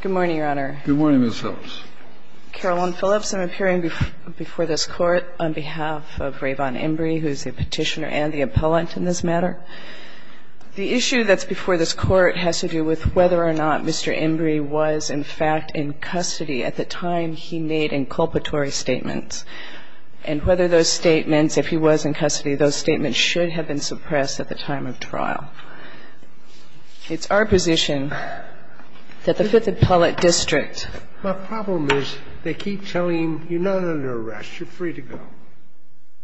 Good morning, Your Honor. Good morning, Ms. Phillips. Carolyn Phillips. I'm appearing before this Court on behalf of Raevaughn Embry, who is the petitioner and the appellant in this matter. The issue that's before this Court has to do with whether or not Mr. Embry was, in fact, in custody at the time he made inculpatory statements, and whether those statements, if he was in custody, those statements should have been suppressed at the time of trial. It's our position that the Fifth Appellate District — The problem is they keep telling him, you're not under arrest, you're free to go.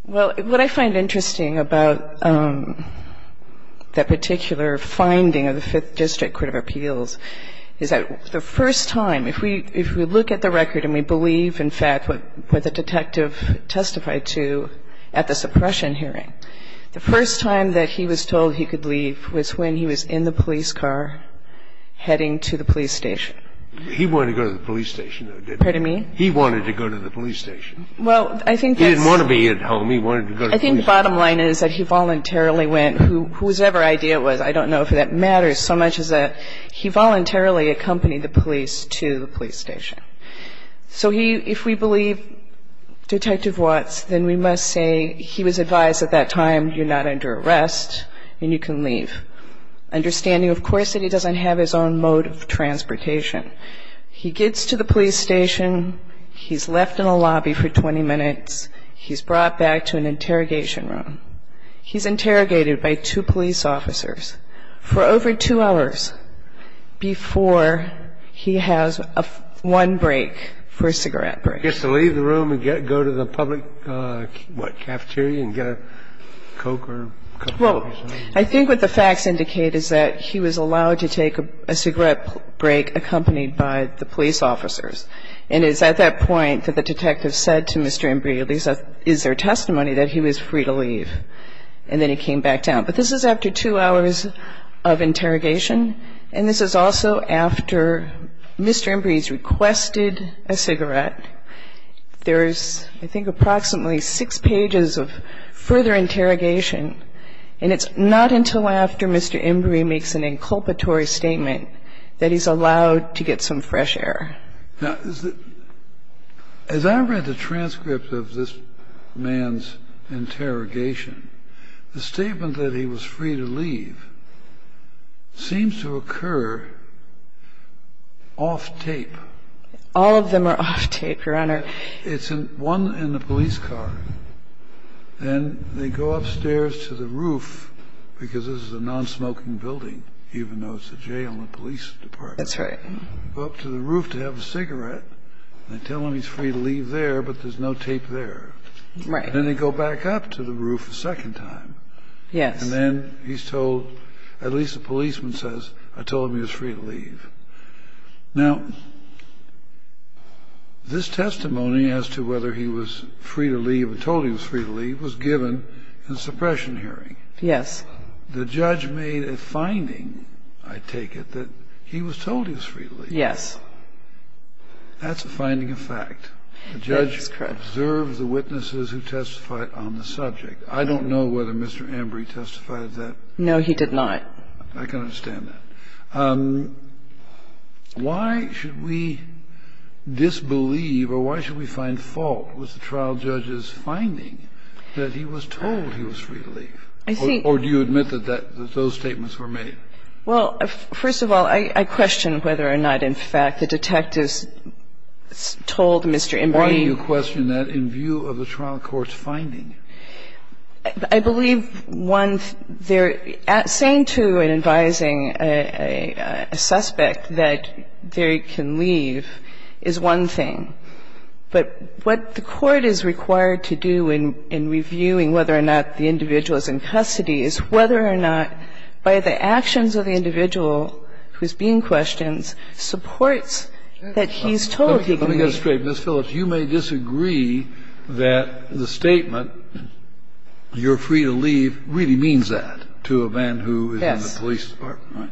Well, what I find interesting about that particular finding of the Fifth District Court of Appeals is that the first time, if we look at the record and we believe, in fact, what the detective testified to at the suppression hearing, the first time that he was told he could leave was when he was in the police car heading to the police station. He wanted to go to the police station, though, didn't he? Pardon me? He wanted to go to the police station. Well, I think that's — He didn't want to be at home. He wanted to go to the police station. I think the bottom line is that he voluntarily went, whosever idea it was, I don't know if that matters so much as that he voluntarily accompanied the police to the police station. So he — if we believe Detective Watts, then we must say he was advised at that time, you're not under arrest and you can leave, understanding, of course, that he doesn't have his own mode of transportation. He gets to the police station. He's left in a lobby for 20 minutes. He's brought back to an interrogation room. He's interrogated by two police officers for over two hours before he has one break for a cigarette break. He gets to leave the room and go to the public, what, cafeteria and get a Coke or Coke? Well, I think what the facts indicate is that he was allowed to take a cigarette break accompanied by the police officers. And it's at that point that the detective said to Mr. Embree, at least that is their testimony, that he was free to leave. And then he came back down. But this is after two hours of interrogation. And this is also after Mr. Embree's requested a cigarette. There's, I think, approximately six pages of further interrogation. And it's not until after Mr. Embree makes an inculpatory statement that he's allowed to get some fresh air. Now, as I read the transcript of this man's interrogation, the statement that he was free to leave seems to occur off tape. All of them are off tape, Your Honor. It's one in the police car. And they go upstairs to the roof, because this is a non-smoking building, even though it's a jail and police department. That's right. Go up to the roof to have a cigarette. And they tell him he's free to leave there, but there's no tape there. Right. And then they go back up to the roof a second time. Yes. And then he's told, at least the policeman says, I told him he was free to leave. Now, this testimony as to whether he was free to leave or told he was free to leave was given in suppression hearing. Yes. The judge made a finding, I take it, that he was told he was free to leave. Yes. That's a finding of fact. The judge observed the witnesses who testified on the subject. I don't know whether Mr. Embree testified to that. No, he did not. I can understand that. Why should we disbelieve or why should we find fault with the trial judge's finding that he was told he was free to leave? Or do you admit that those statements were made? Well, first of all, I question whether or not, in fact, the detectives told Mr. Embree. Why do you question that in view of the trial court's finding? I believe, one, they're saying to and advising a suspect that they can leave is one thing. But what the court is required to do in reviewing whether or not the individual is in custody is whether or not, by the actions of the individual who's being questioned, supports that he's told he can leave. Let me get this straight. Ms. Phillips, you may disagree that the statement, you're free to leave, really means that to a man who is in the police department, right?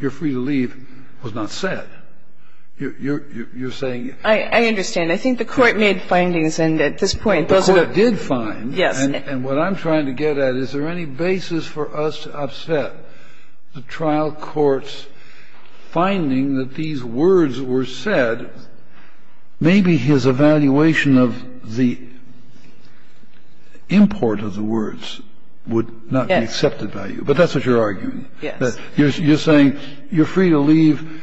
You're free to leave was not said. You're saying you can't. I understand. I think the court made findings, and at this point, those are the... The court did find. Yes. And what I'm trying to get at, is there any basis for us to upset the trial court's finding that these words were said? Maybe his evaluation of the import of the words would not be accepted by you. Yes. But that's what you're arguing. Yes. You're saying you're free to leave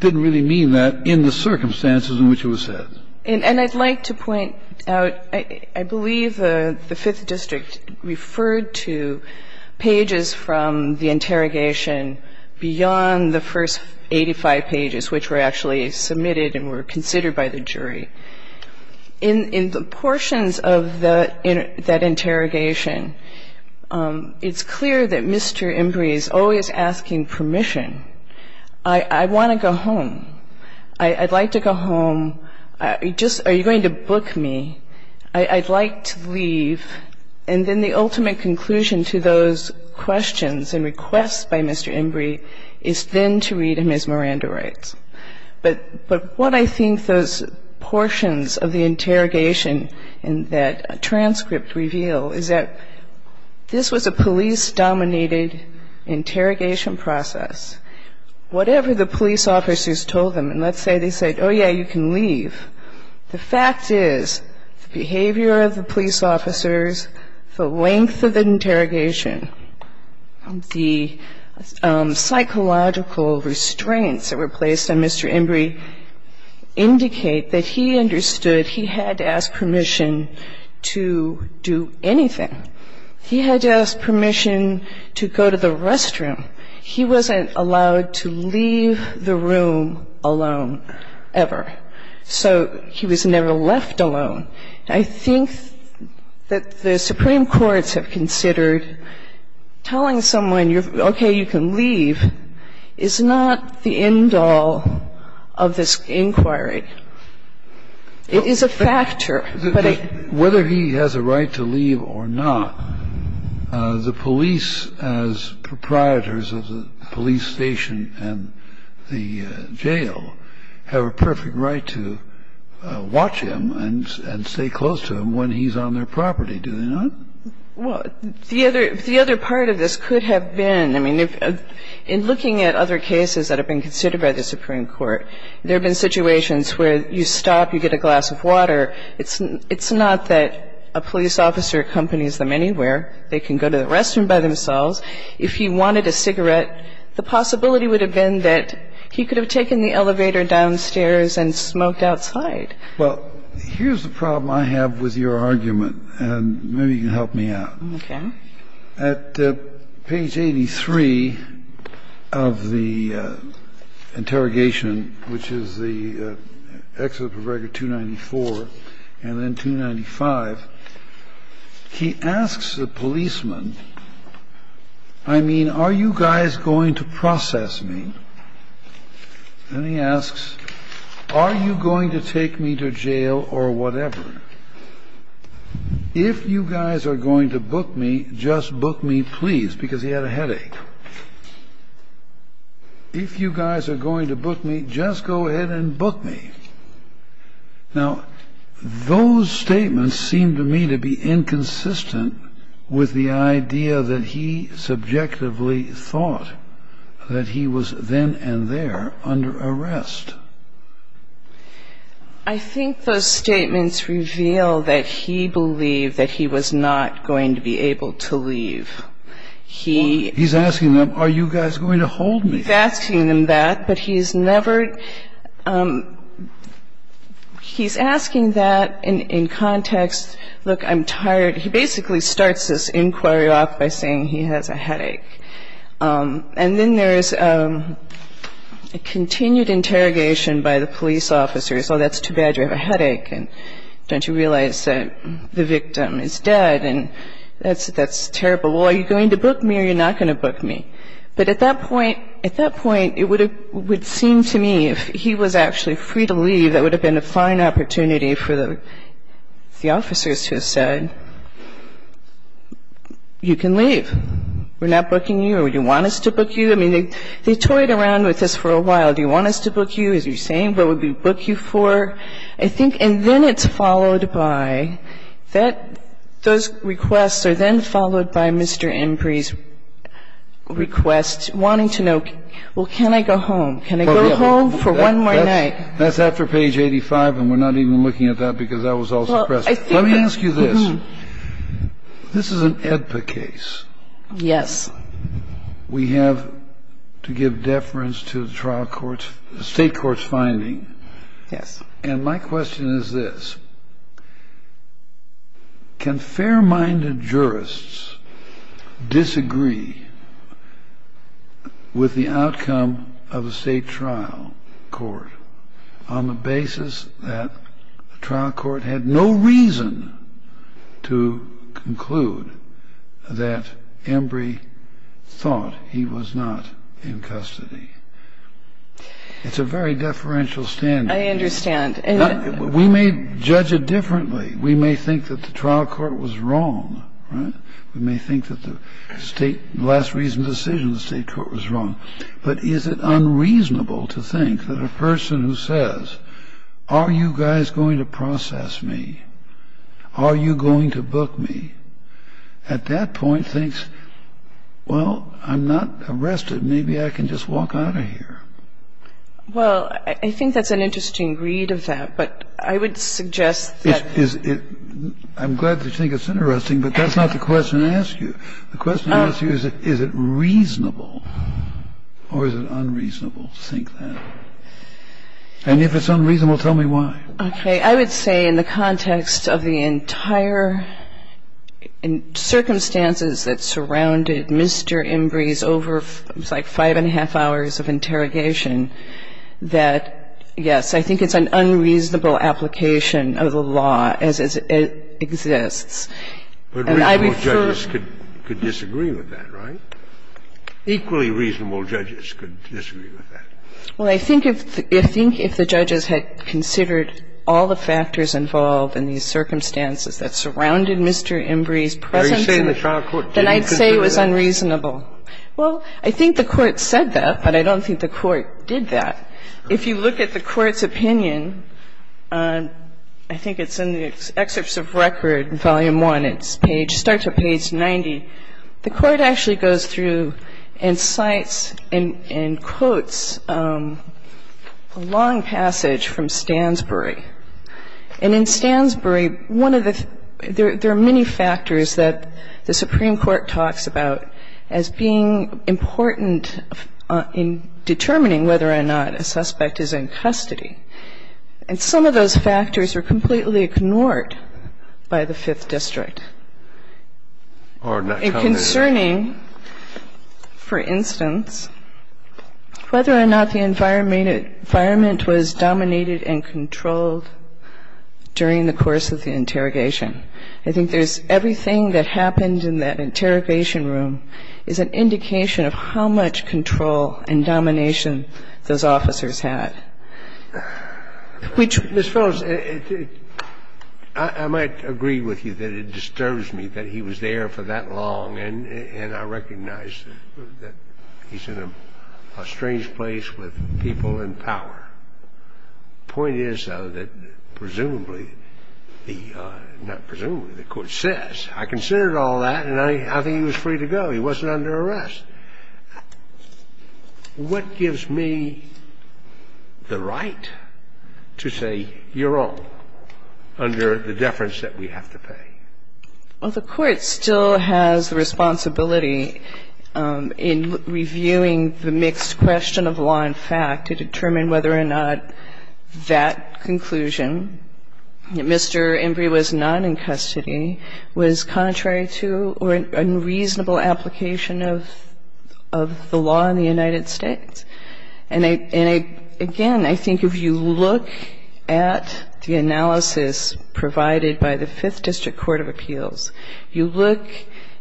didn't really mean that in the circumstances in which it was said. And I'd like to point out, I believe the Fifth District referred to pages from the interrogation beyond the first 85 pages, which were actually submitted and were considered by the jury. In the portions of that interrogation, it's clear that Mr. Embry is always asking permission. I want to go home. I'd like to go home. Are you going to book me? I'd like to leave. And then the ultimate conclusion to those questions and requests by Mr. Embry is then to read him as Miranda writes. But what I think those portions of the interrogation in that transcript reveal is that this was a police-dominated interrogation process. Whatever the police officers told them, and let's say they said, oh, yeah, you can leave. The fact is the behavior of the police officers, the length of the interrogation, the psychological restraints that were placed on Mr. Embry indicate that he understood he had to ask permission to do anything. He had to ask permission to go to the restroom. He wasn't allowed to leave the room alone ever. So he was never left alone. And I think that the Supreme Court's have considered telling someone, okay, you can leave, is not the end all of this inquiry. It is a factor, but it -- Whether he has a right to leave or not, the police, as proprietors of the police station and the jail, have a perfect right to watch him and stay close to him when he's on their property, do they not? Well, the other part of this could have been, I mean, in looking at other cases that have been considered by the Supreme Court, there have been situations where you stop, you get a glass of water. It's not that a police officer accompanies them anywhere. They can go to the restroom by themselves. If he wanted a cigarette, the possibility would have been that he could have taken the elevator downstairs and smoked outside. Well, here's the problem I have with your argument, and maybe you can help me out. Okay. At page 83 of the interrogation, which is the excerpt of record 294 and then 295, he asks the policeman, I mean, are you guys going to process me? And he asks, are you going to take me to jail or whatever? If you guys are going to book me, just book me, please, because he had a headache. If you guys are going to book me, just go ahead and book me. Now, those statements seem to me to be inconsistent with the idea that he subjectively thought that he was then and there under arrest. I think those statements reveal that he believed that he was not going to be able to leave. He's asking them, are you guys going to hold me? He's asking them that, but he's never he's asking that in context, look, I'm tired. He basically starts this inquiry off by saying he has a headache. And then there is a continued interrogation by the police officers. Oh, that's too bad. You have a headache, and don't you realize that the victim is dead, and that's terrible. Well, are you going to book me or are you not going to book me? But at that point, it would seem to me if he was actually free to leave, that would have been a fine opportunity for the officers to have said, you can leave. We're not booking you, or do you want us to book you? I mean, they toyed around with this for a while. Do you want us to book you? As you're saying, what would we book you for? I think and then it's followed by that those requests are then followed by Mr. Embree's request wanting to know, well, can I go home? Can I go home for one more night? That's after page 85, and we're not even looking at that because that was all suppressed. Let me ask you this. This is an AEDPA case. Yes. We have to give deference to the state court's finding. Yes. And my question is this. Can fair-minded jurists disagree with the outcome of a state trial court on the basis that the trial court had no reason to conclude that Embree thought he was not in custody? It's a very deferential standard. I understand. We may judge it differently. We may think that the trial court was wrong. We may think that the last reasoned decision in the state court was wrong. But is it unreasonable to think that a person who says, are you guys going to process me? Are you going to book me? At that point thinks, well, I'm not arrested. Maybe I can just walk out of here. Well, I think that's an interesting read of that. But I would suggest that. I'm glad that you think it's interesting, but that's not the question I asked you. The question I asked you is, is it reasonable or is it unreasonable to think that? And if it's unreasonable, tell me why. Okay. I would say in the context of the entire circumstances that surrounded Mr. Embree's over like five and a half hours of interrogation that, yes, I think it's an unreasonable application of the law as it exists. But reasonable judges could disagree with that, right? Equally reasonable judges could disagree with that. Well, I think if the judges had considered all the factors involved in these circumstances that surrounded Mr. Embree's presence, then I'd say it was unreasonable. Well, I think the Court said that, but I don't think the Court did that. If you look at the Court's opinion, I think it's in the excerpts of record, Volume 1. It's page – start to page 90. The Court actually goes through and cites and quotes a long passage from Stansbury. And in Stansbury, one of the – there are many factors that the Supreme Court talks about as being important in determining whether or not a suspect is in custody. And some of those factors are completely ignored by the Fifth District. And concerning, for instance, whether or not the environment was dominated and controlled during the course of the interrogation. I think there's – everything that happened in that interrogation room is an indication of how much control and domination those officers had, which – Ms. Phillips, I might agree with you that it disturbs me that he was there for that long, and I recognize that he's in a strange place with people in power. The point is, though, that presumably the – not presumably, the Court says, I considered all that, and I think he was free to go. He wasn't under arrest. What gives me the right to say you're wrong under the deference that we have to pay? Well, the Court still has the responsibility in reviewing the mixed question of law and the fact to determine whether or not that conclusion, that Mr. Embree was not in custody, was contrary to or unreasonable application of the law in the United States. And I – again, I think if you look at the analysis provided by the Fifth District Court of Appeals, you look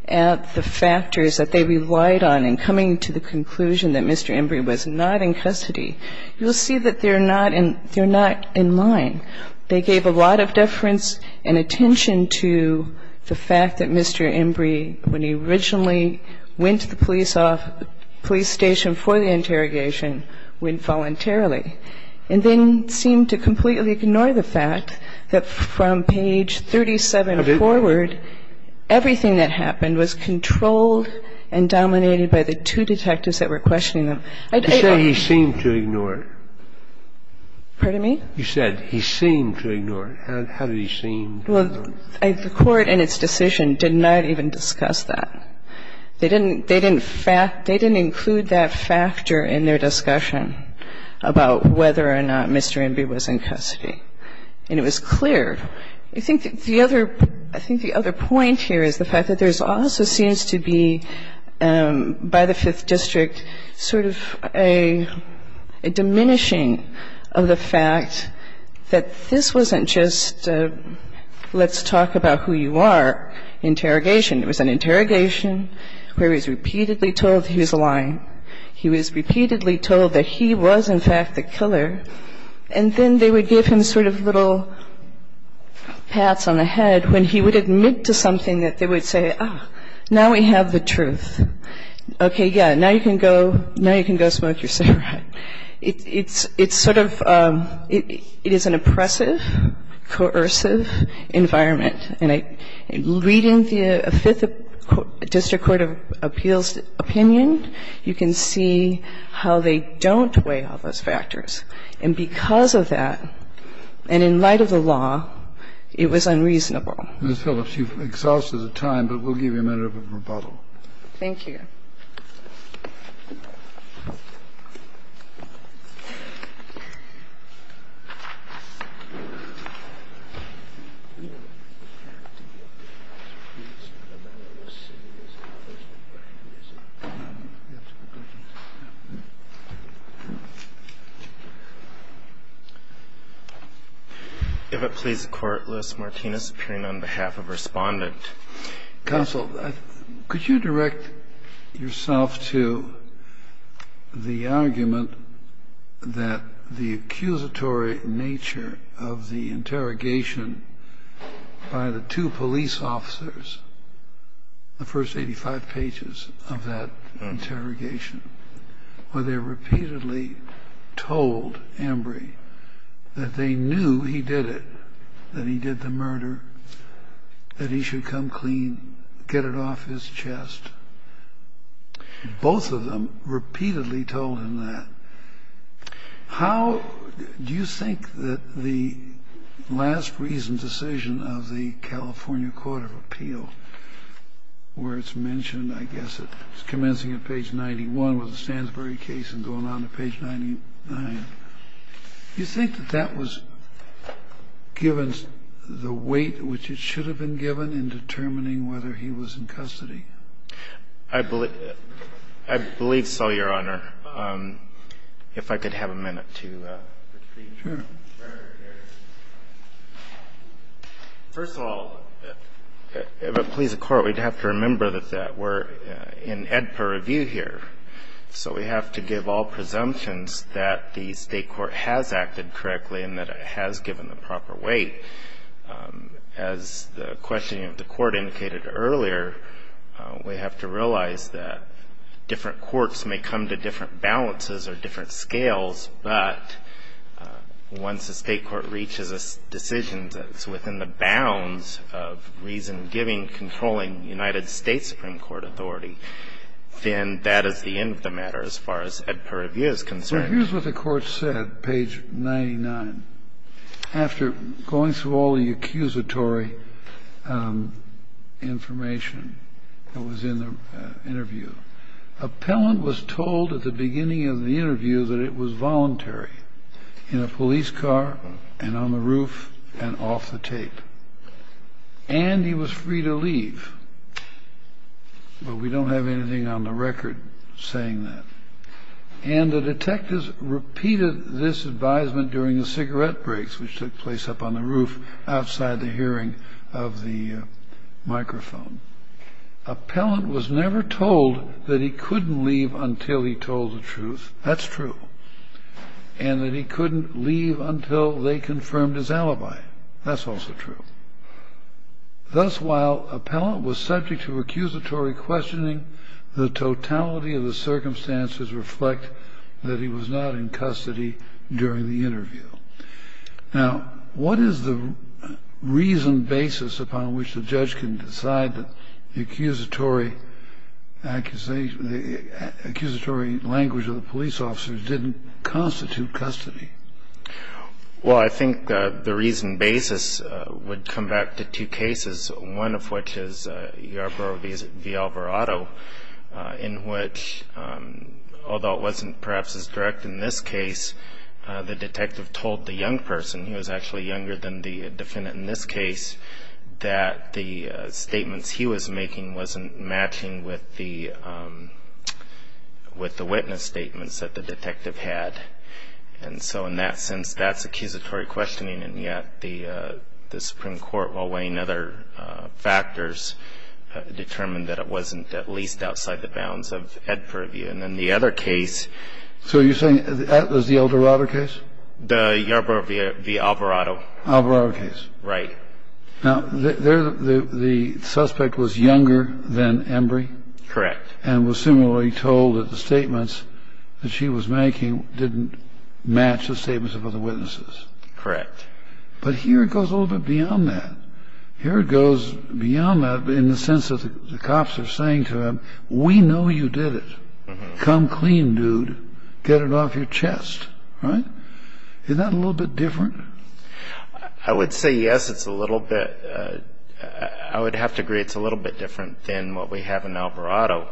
at the factors that they relied on in coming to the conclusion that Mr. Embree was not in custody, you'll see that they're not in line. They gave a lot of deference and attention to the fact that Mr. Embree, when he originally went to the police station for the interrogation, went voluntarily, and then seemed to completely ignore the fact that from page 37 forward, everything that happened in the interrogation was controlled and dominated by the two detectives that were questioning him. You said he seemed to ignore it. Pardon me? You said he seemed to ignore it. How did he seem to ignore it? Well, the Court in its decision did not even discuss that. They didn't – they didn't include that factor in their discussion about whether or not Mr. Embree was in custody. And it was clear. I think the other – I think the other point here is the fact that there also seems to be, by the Fifth District, sort of a diminishing of the fact that this wasn't just a let's talk about who you are interrogation. It was an interrogation where he was repeatedly told he was lying. He was repeatedly told that he was, in fact, the killer. And then they would give him sort of little pats on the head when he would admit to something that they would say, oh, now we have the truth. Okay, yeah, now you can go – now you can go smoke your cigarette. It's sort of – it is an oppressive, coercive environment. And reading the Fifth District Court of Appeals opinion, you can see how they don't weigh all those factors. And because of that, and in light of the law, it was unreasonable. Ms. Phillips, you've exhausted the time, but we'll give you a minute of rebuttal. Thank you. If it please the Court, Lewis Martinez, appearing on behalf of Respondent. Counsel, could you direct yourself to the argument that the accusatory nature of the interrogation by the two police officers, the first 85 pages of that interrogation, where they repeatedly told Embry that they knew he did it, that he did the murder, that he should come clean, get it off his chest. Both of them repeatedly told him that. How – do you think that the last reasoned decision of the California Court of Appeals, where it's mentioned, I guess it's commencing at page 91 with the Stansbury case and going on to page 99, do you think that that was given the weight which it should have been given in determining whether he was in custody? I believe so, Your Honor. If I could have a minute to repeat. Sure. First of all, if it please the Court, we'd have to remember that we're in Edper review here, so we have to give all presumptions that the state court has acted correctly and that it has given the proper weight. As the questioning of the court indicated earlier, we have to realize that different courts may come to different balances or different scales, but once the state court reaches a decision that's within the bounds of reason giving, controlling United States Supreme Court authority, then that is the end of the matter as far as Edper review is concerned. Well, here's what the Court said, page 99. After going through all the accusatory information that was in the interview, appellant was told at the beginning of the interview that it was voluntary in a police car and on the roof and off the tape, and he was free to leave. But we don't have anything on the record saying that. And the detectives repeated this advisement during the cigarette breaks which took place up on the roof outside the hearing of the microphone. Appellant was never told that he couldn't leave until he told the truth. That's true. And that he couldn't leave until they confirmed his alibi. That's also true. Thus, while appellant was subject to accusatory questioning, the totality of the circumstances reflect that he was not in custody during the interview. Now, what is the reason basis upon which the judge can decide that the accusatory language of the police officers didn't constitute custody? Well, I think the reason basis would come back to two cases, one of which is Yarbrough v. Alvarado, in which, although it wasn't perhaps as direct in this case, the detective told the young person, who was actually younger than the defendant in this case, that the detective had. And so in that sense, that's accusatory questioning. And yet, the Supreme Court, while weighing other factors, determined that it wasn't at least outside the bounds of Ed purview. And then the other case. So you're saying that was the Eldorado case? The Yarbrough v. Alvarado. Alvarado case. Right. Now, the suspect was younger than Embry. Correct. And was similarly told that the statements that she was making didn't match the statements of other witnesses. Correct. But here it goes a little bit beyond that. Here it goes beyond that in the sense that the cops are saying to him, we know you did it. Come clean, dude. Get it off your chest. Right? Isn't that a little bit different? I would say yes, it's a little bit. I would have to agree it's a little bit different than what we have in Alvarado.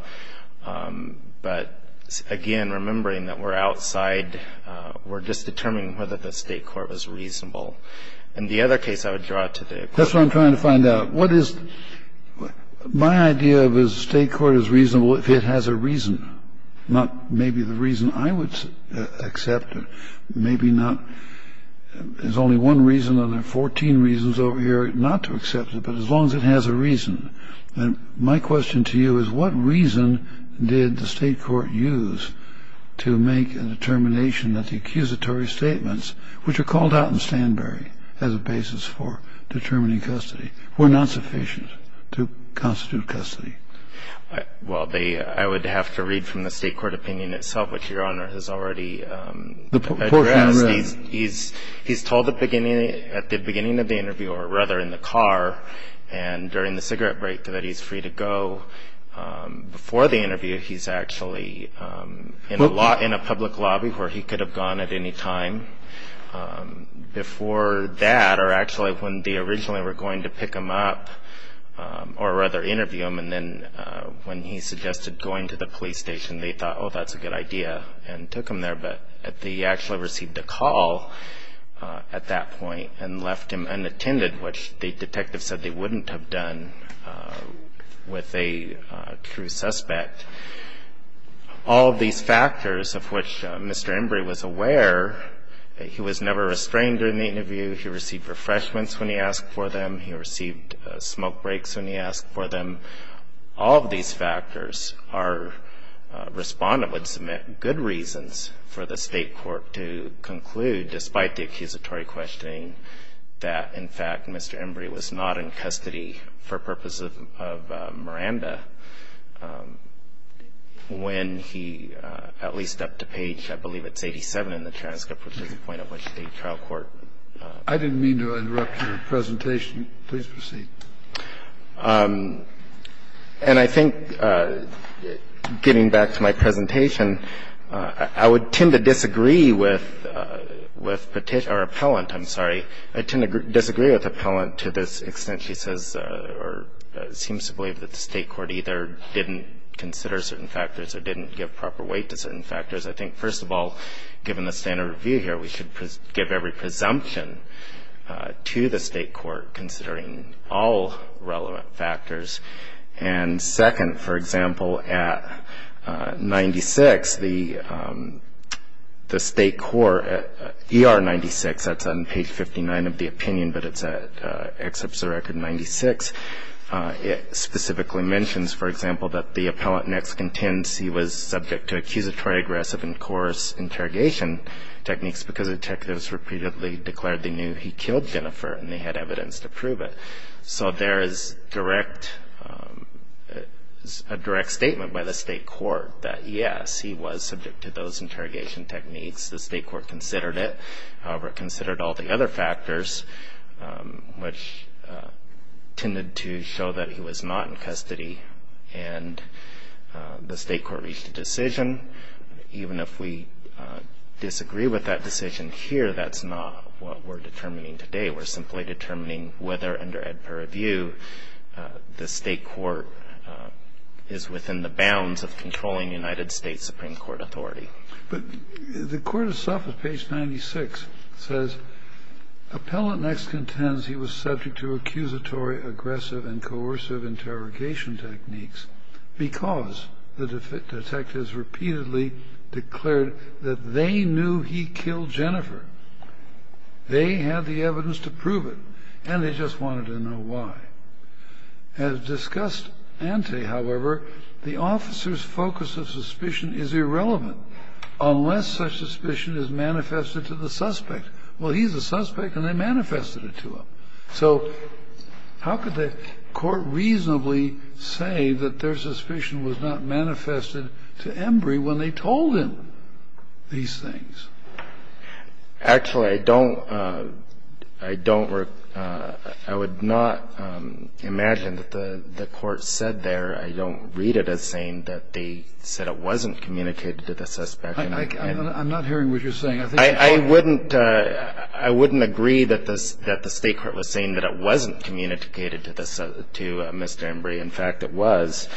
But again, remembering that we're outside, we're just determining whether the State Court was reasonable. In the other case, I would draw to the equation. That's what I'm trying to find out. What is my idea of is the State Court is reasonable if it has a reason, not maybe the reason I would accept, maybe not. There's only one reason, and there are 14 reasons over here not to accept it, but as long as it has a reason. My question to you is what reason did the State Court use to make a determination that the accusatory statements, which are called out in Stanberry as a basis for determining custody, were not sufficient to constitute custody? Well, I would have to read from the State Court opinion itself, which Your Honor has already addressed. He's told at the beginning of the interview, or rather in the car and during the cigarette break, that he's free to go. Before the interview, he's actually in a public lobby where he could have gone at any time. Before that, or actually when they originally were going to pick him up, or rather interview him, and then when he suggested going to the police station, they thought, oh, that's a good idea, and took him there, but he actually received a call at that point and left him unattended, which the detective said they wouldn't have done with a true suspect. All of these factors of which Mr. Embry was aware, he was never restrained during the interview, he received refreshments when he asked for them, he received smoke breaks when he asked for them. All of these factors, our Respondent would submit good reasons for the State Court to conclude, despite the accusatory questioning, that, in fact, Mr. Embry was not in custody for purposes of Miranda when he, at least up to page, I believe it's 87 in the transcript, which is the point at which the trial court. I didn't mean to interrupt your presentation. Please proceed. And I think, getting back to my presentation, I would tend to disagree with Petition or Appellant, I'm sorry. I tend to disagree with Appellant to this extent. She says or seems to believe that the State Court either didn't consider certain factors or didn't give proper weight to certain factors. I think, first of all, given the standard review here, we should give every presumption to the State Court, considering all relevant factors. And second, for example, at 96, the State Court, ER 96, that's on page 59 of the opinion, but it's at excerpts of Record 96, it specifically mentions, for example, that the Appellant next contends he was subject to accusatory, aggressive, and coerce interrogation techniques because detectives repeatedly declared they knew he killed Jennifer and they had evidence to prove it. So there is a direct statement by the State Court that, yes, he was subject to those interrogation techniques. The State Court considered it, however, it considered all the other factors, which tended to show that he was not in custody. And the State Court reached a decision. Even if we disagree with that decision here, that's not what we're determining today. We're simply determining whether, under Edper review, the State Court is within the bounds of controlling the United States Supreme Court authority. Kennedy. But the Court of Suffolk, page 96, says Appellant next contends he was subject to accusatory, aggressive, and coercive interrogation techniques because the detectives repeatedly declared that they knew he killed Jennifer. They had the evidence to prove it. And they just wanted to know why. As discussed ante, however, the officer's focus of suspicion is irrelevant unless such suspicion is manifested to the suspect. Well, he's a suspect and they manifested it to him. So how could the Court reasonably say that their suspicion was not manifested to Embry when they told him these things? Actually, I don't – I don't – I would not imagine that the Court said there – I don't read it as saying that they said it wasn't communicated to the suspect. I'm not hearing what you're saying. I wouldn't – I wouldn't agree that the State Court was saying that it wasn't communicated to Mr. Embry. In fact, it was.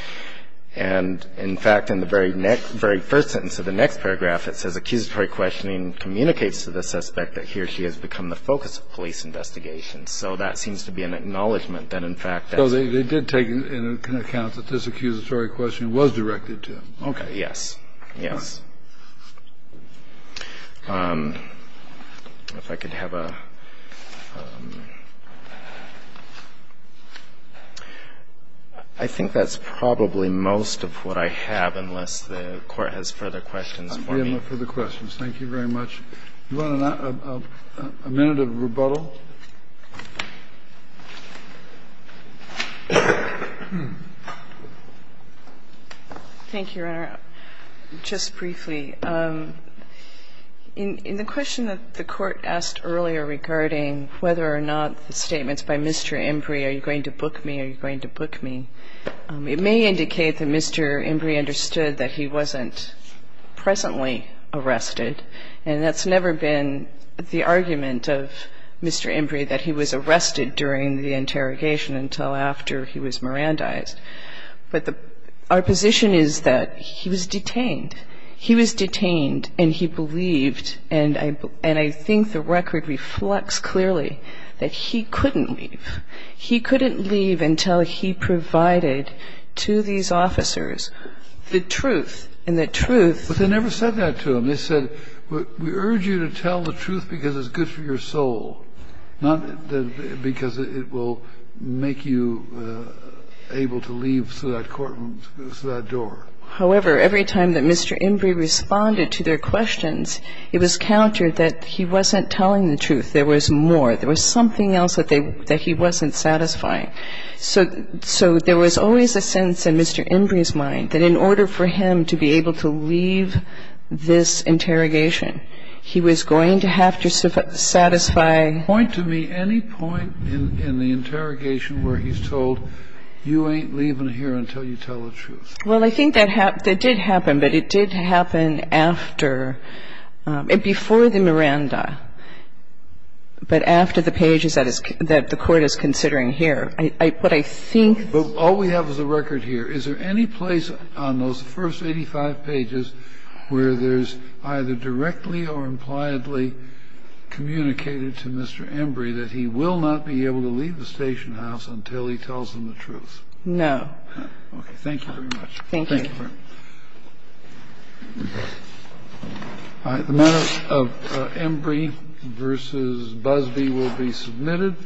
And, in fact, in the very first sentence of the next paragraph, it says accusatory questioning communicates to the suspect that he or she has become the focus of police investigations. So that seems to be an acknowledgment that, in fact, that's – So they did take into account that this accusatory questioning was directed to him. Okay. Yes. Yes. If I could have a – I think that's probably most of what I have, unless the Court has further questions for me. No further questions. Thank you very much. Do you want a minute of rebuttal? Thank you, Your Honor. Just briefly, in the question that the Court asked earlier regarding whether or not the statements by Mr. Embry, are you going to book me, are you going to book me, it may indicate that Mr. Embry understood that he wasn't presently arrested, and that's that he was arrested during the interrogation until after he was Mirandized. But our position is that he was detained. He was detained and he believed, and I think the record reflects clearly, that he couldn't leave. He couldn't leave until he provided to these officers the truth, and the truth But they never said that to him. They said, we urge you to tell the truth because it's good for your soul. Not because it will make you able to leave through that courtroom, through that door. However, every time that Mr. Embry responded to their questions, it was countered that he wasn't telling the truth. There was more. There was something else that he wasn't satisfying. So there was always a sense in Mr. Embry's mind that in order for him to be able to leave this interrogation, he was going to have to satisfy Point to me any point in the interrogation where he's told, you ain't leaving here until you tell the truth. Well, I think that did happen, but it did happen after and before the Miranda, but after the pages that the Court is considering here. What I think All we have is a record here. Is there any place on those first 85 pages where there's either directly or impliedly communicated to Mr. Embry that he will not be able to leave the station house until he tells them the truth? No. Okay. Thank you very much. Thank you. All right. The matter of Embry v. Busby will be submitted.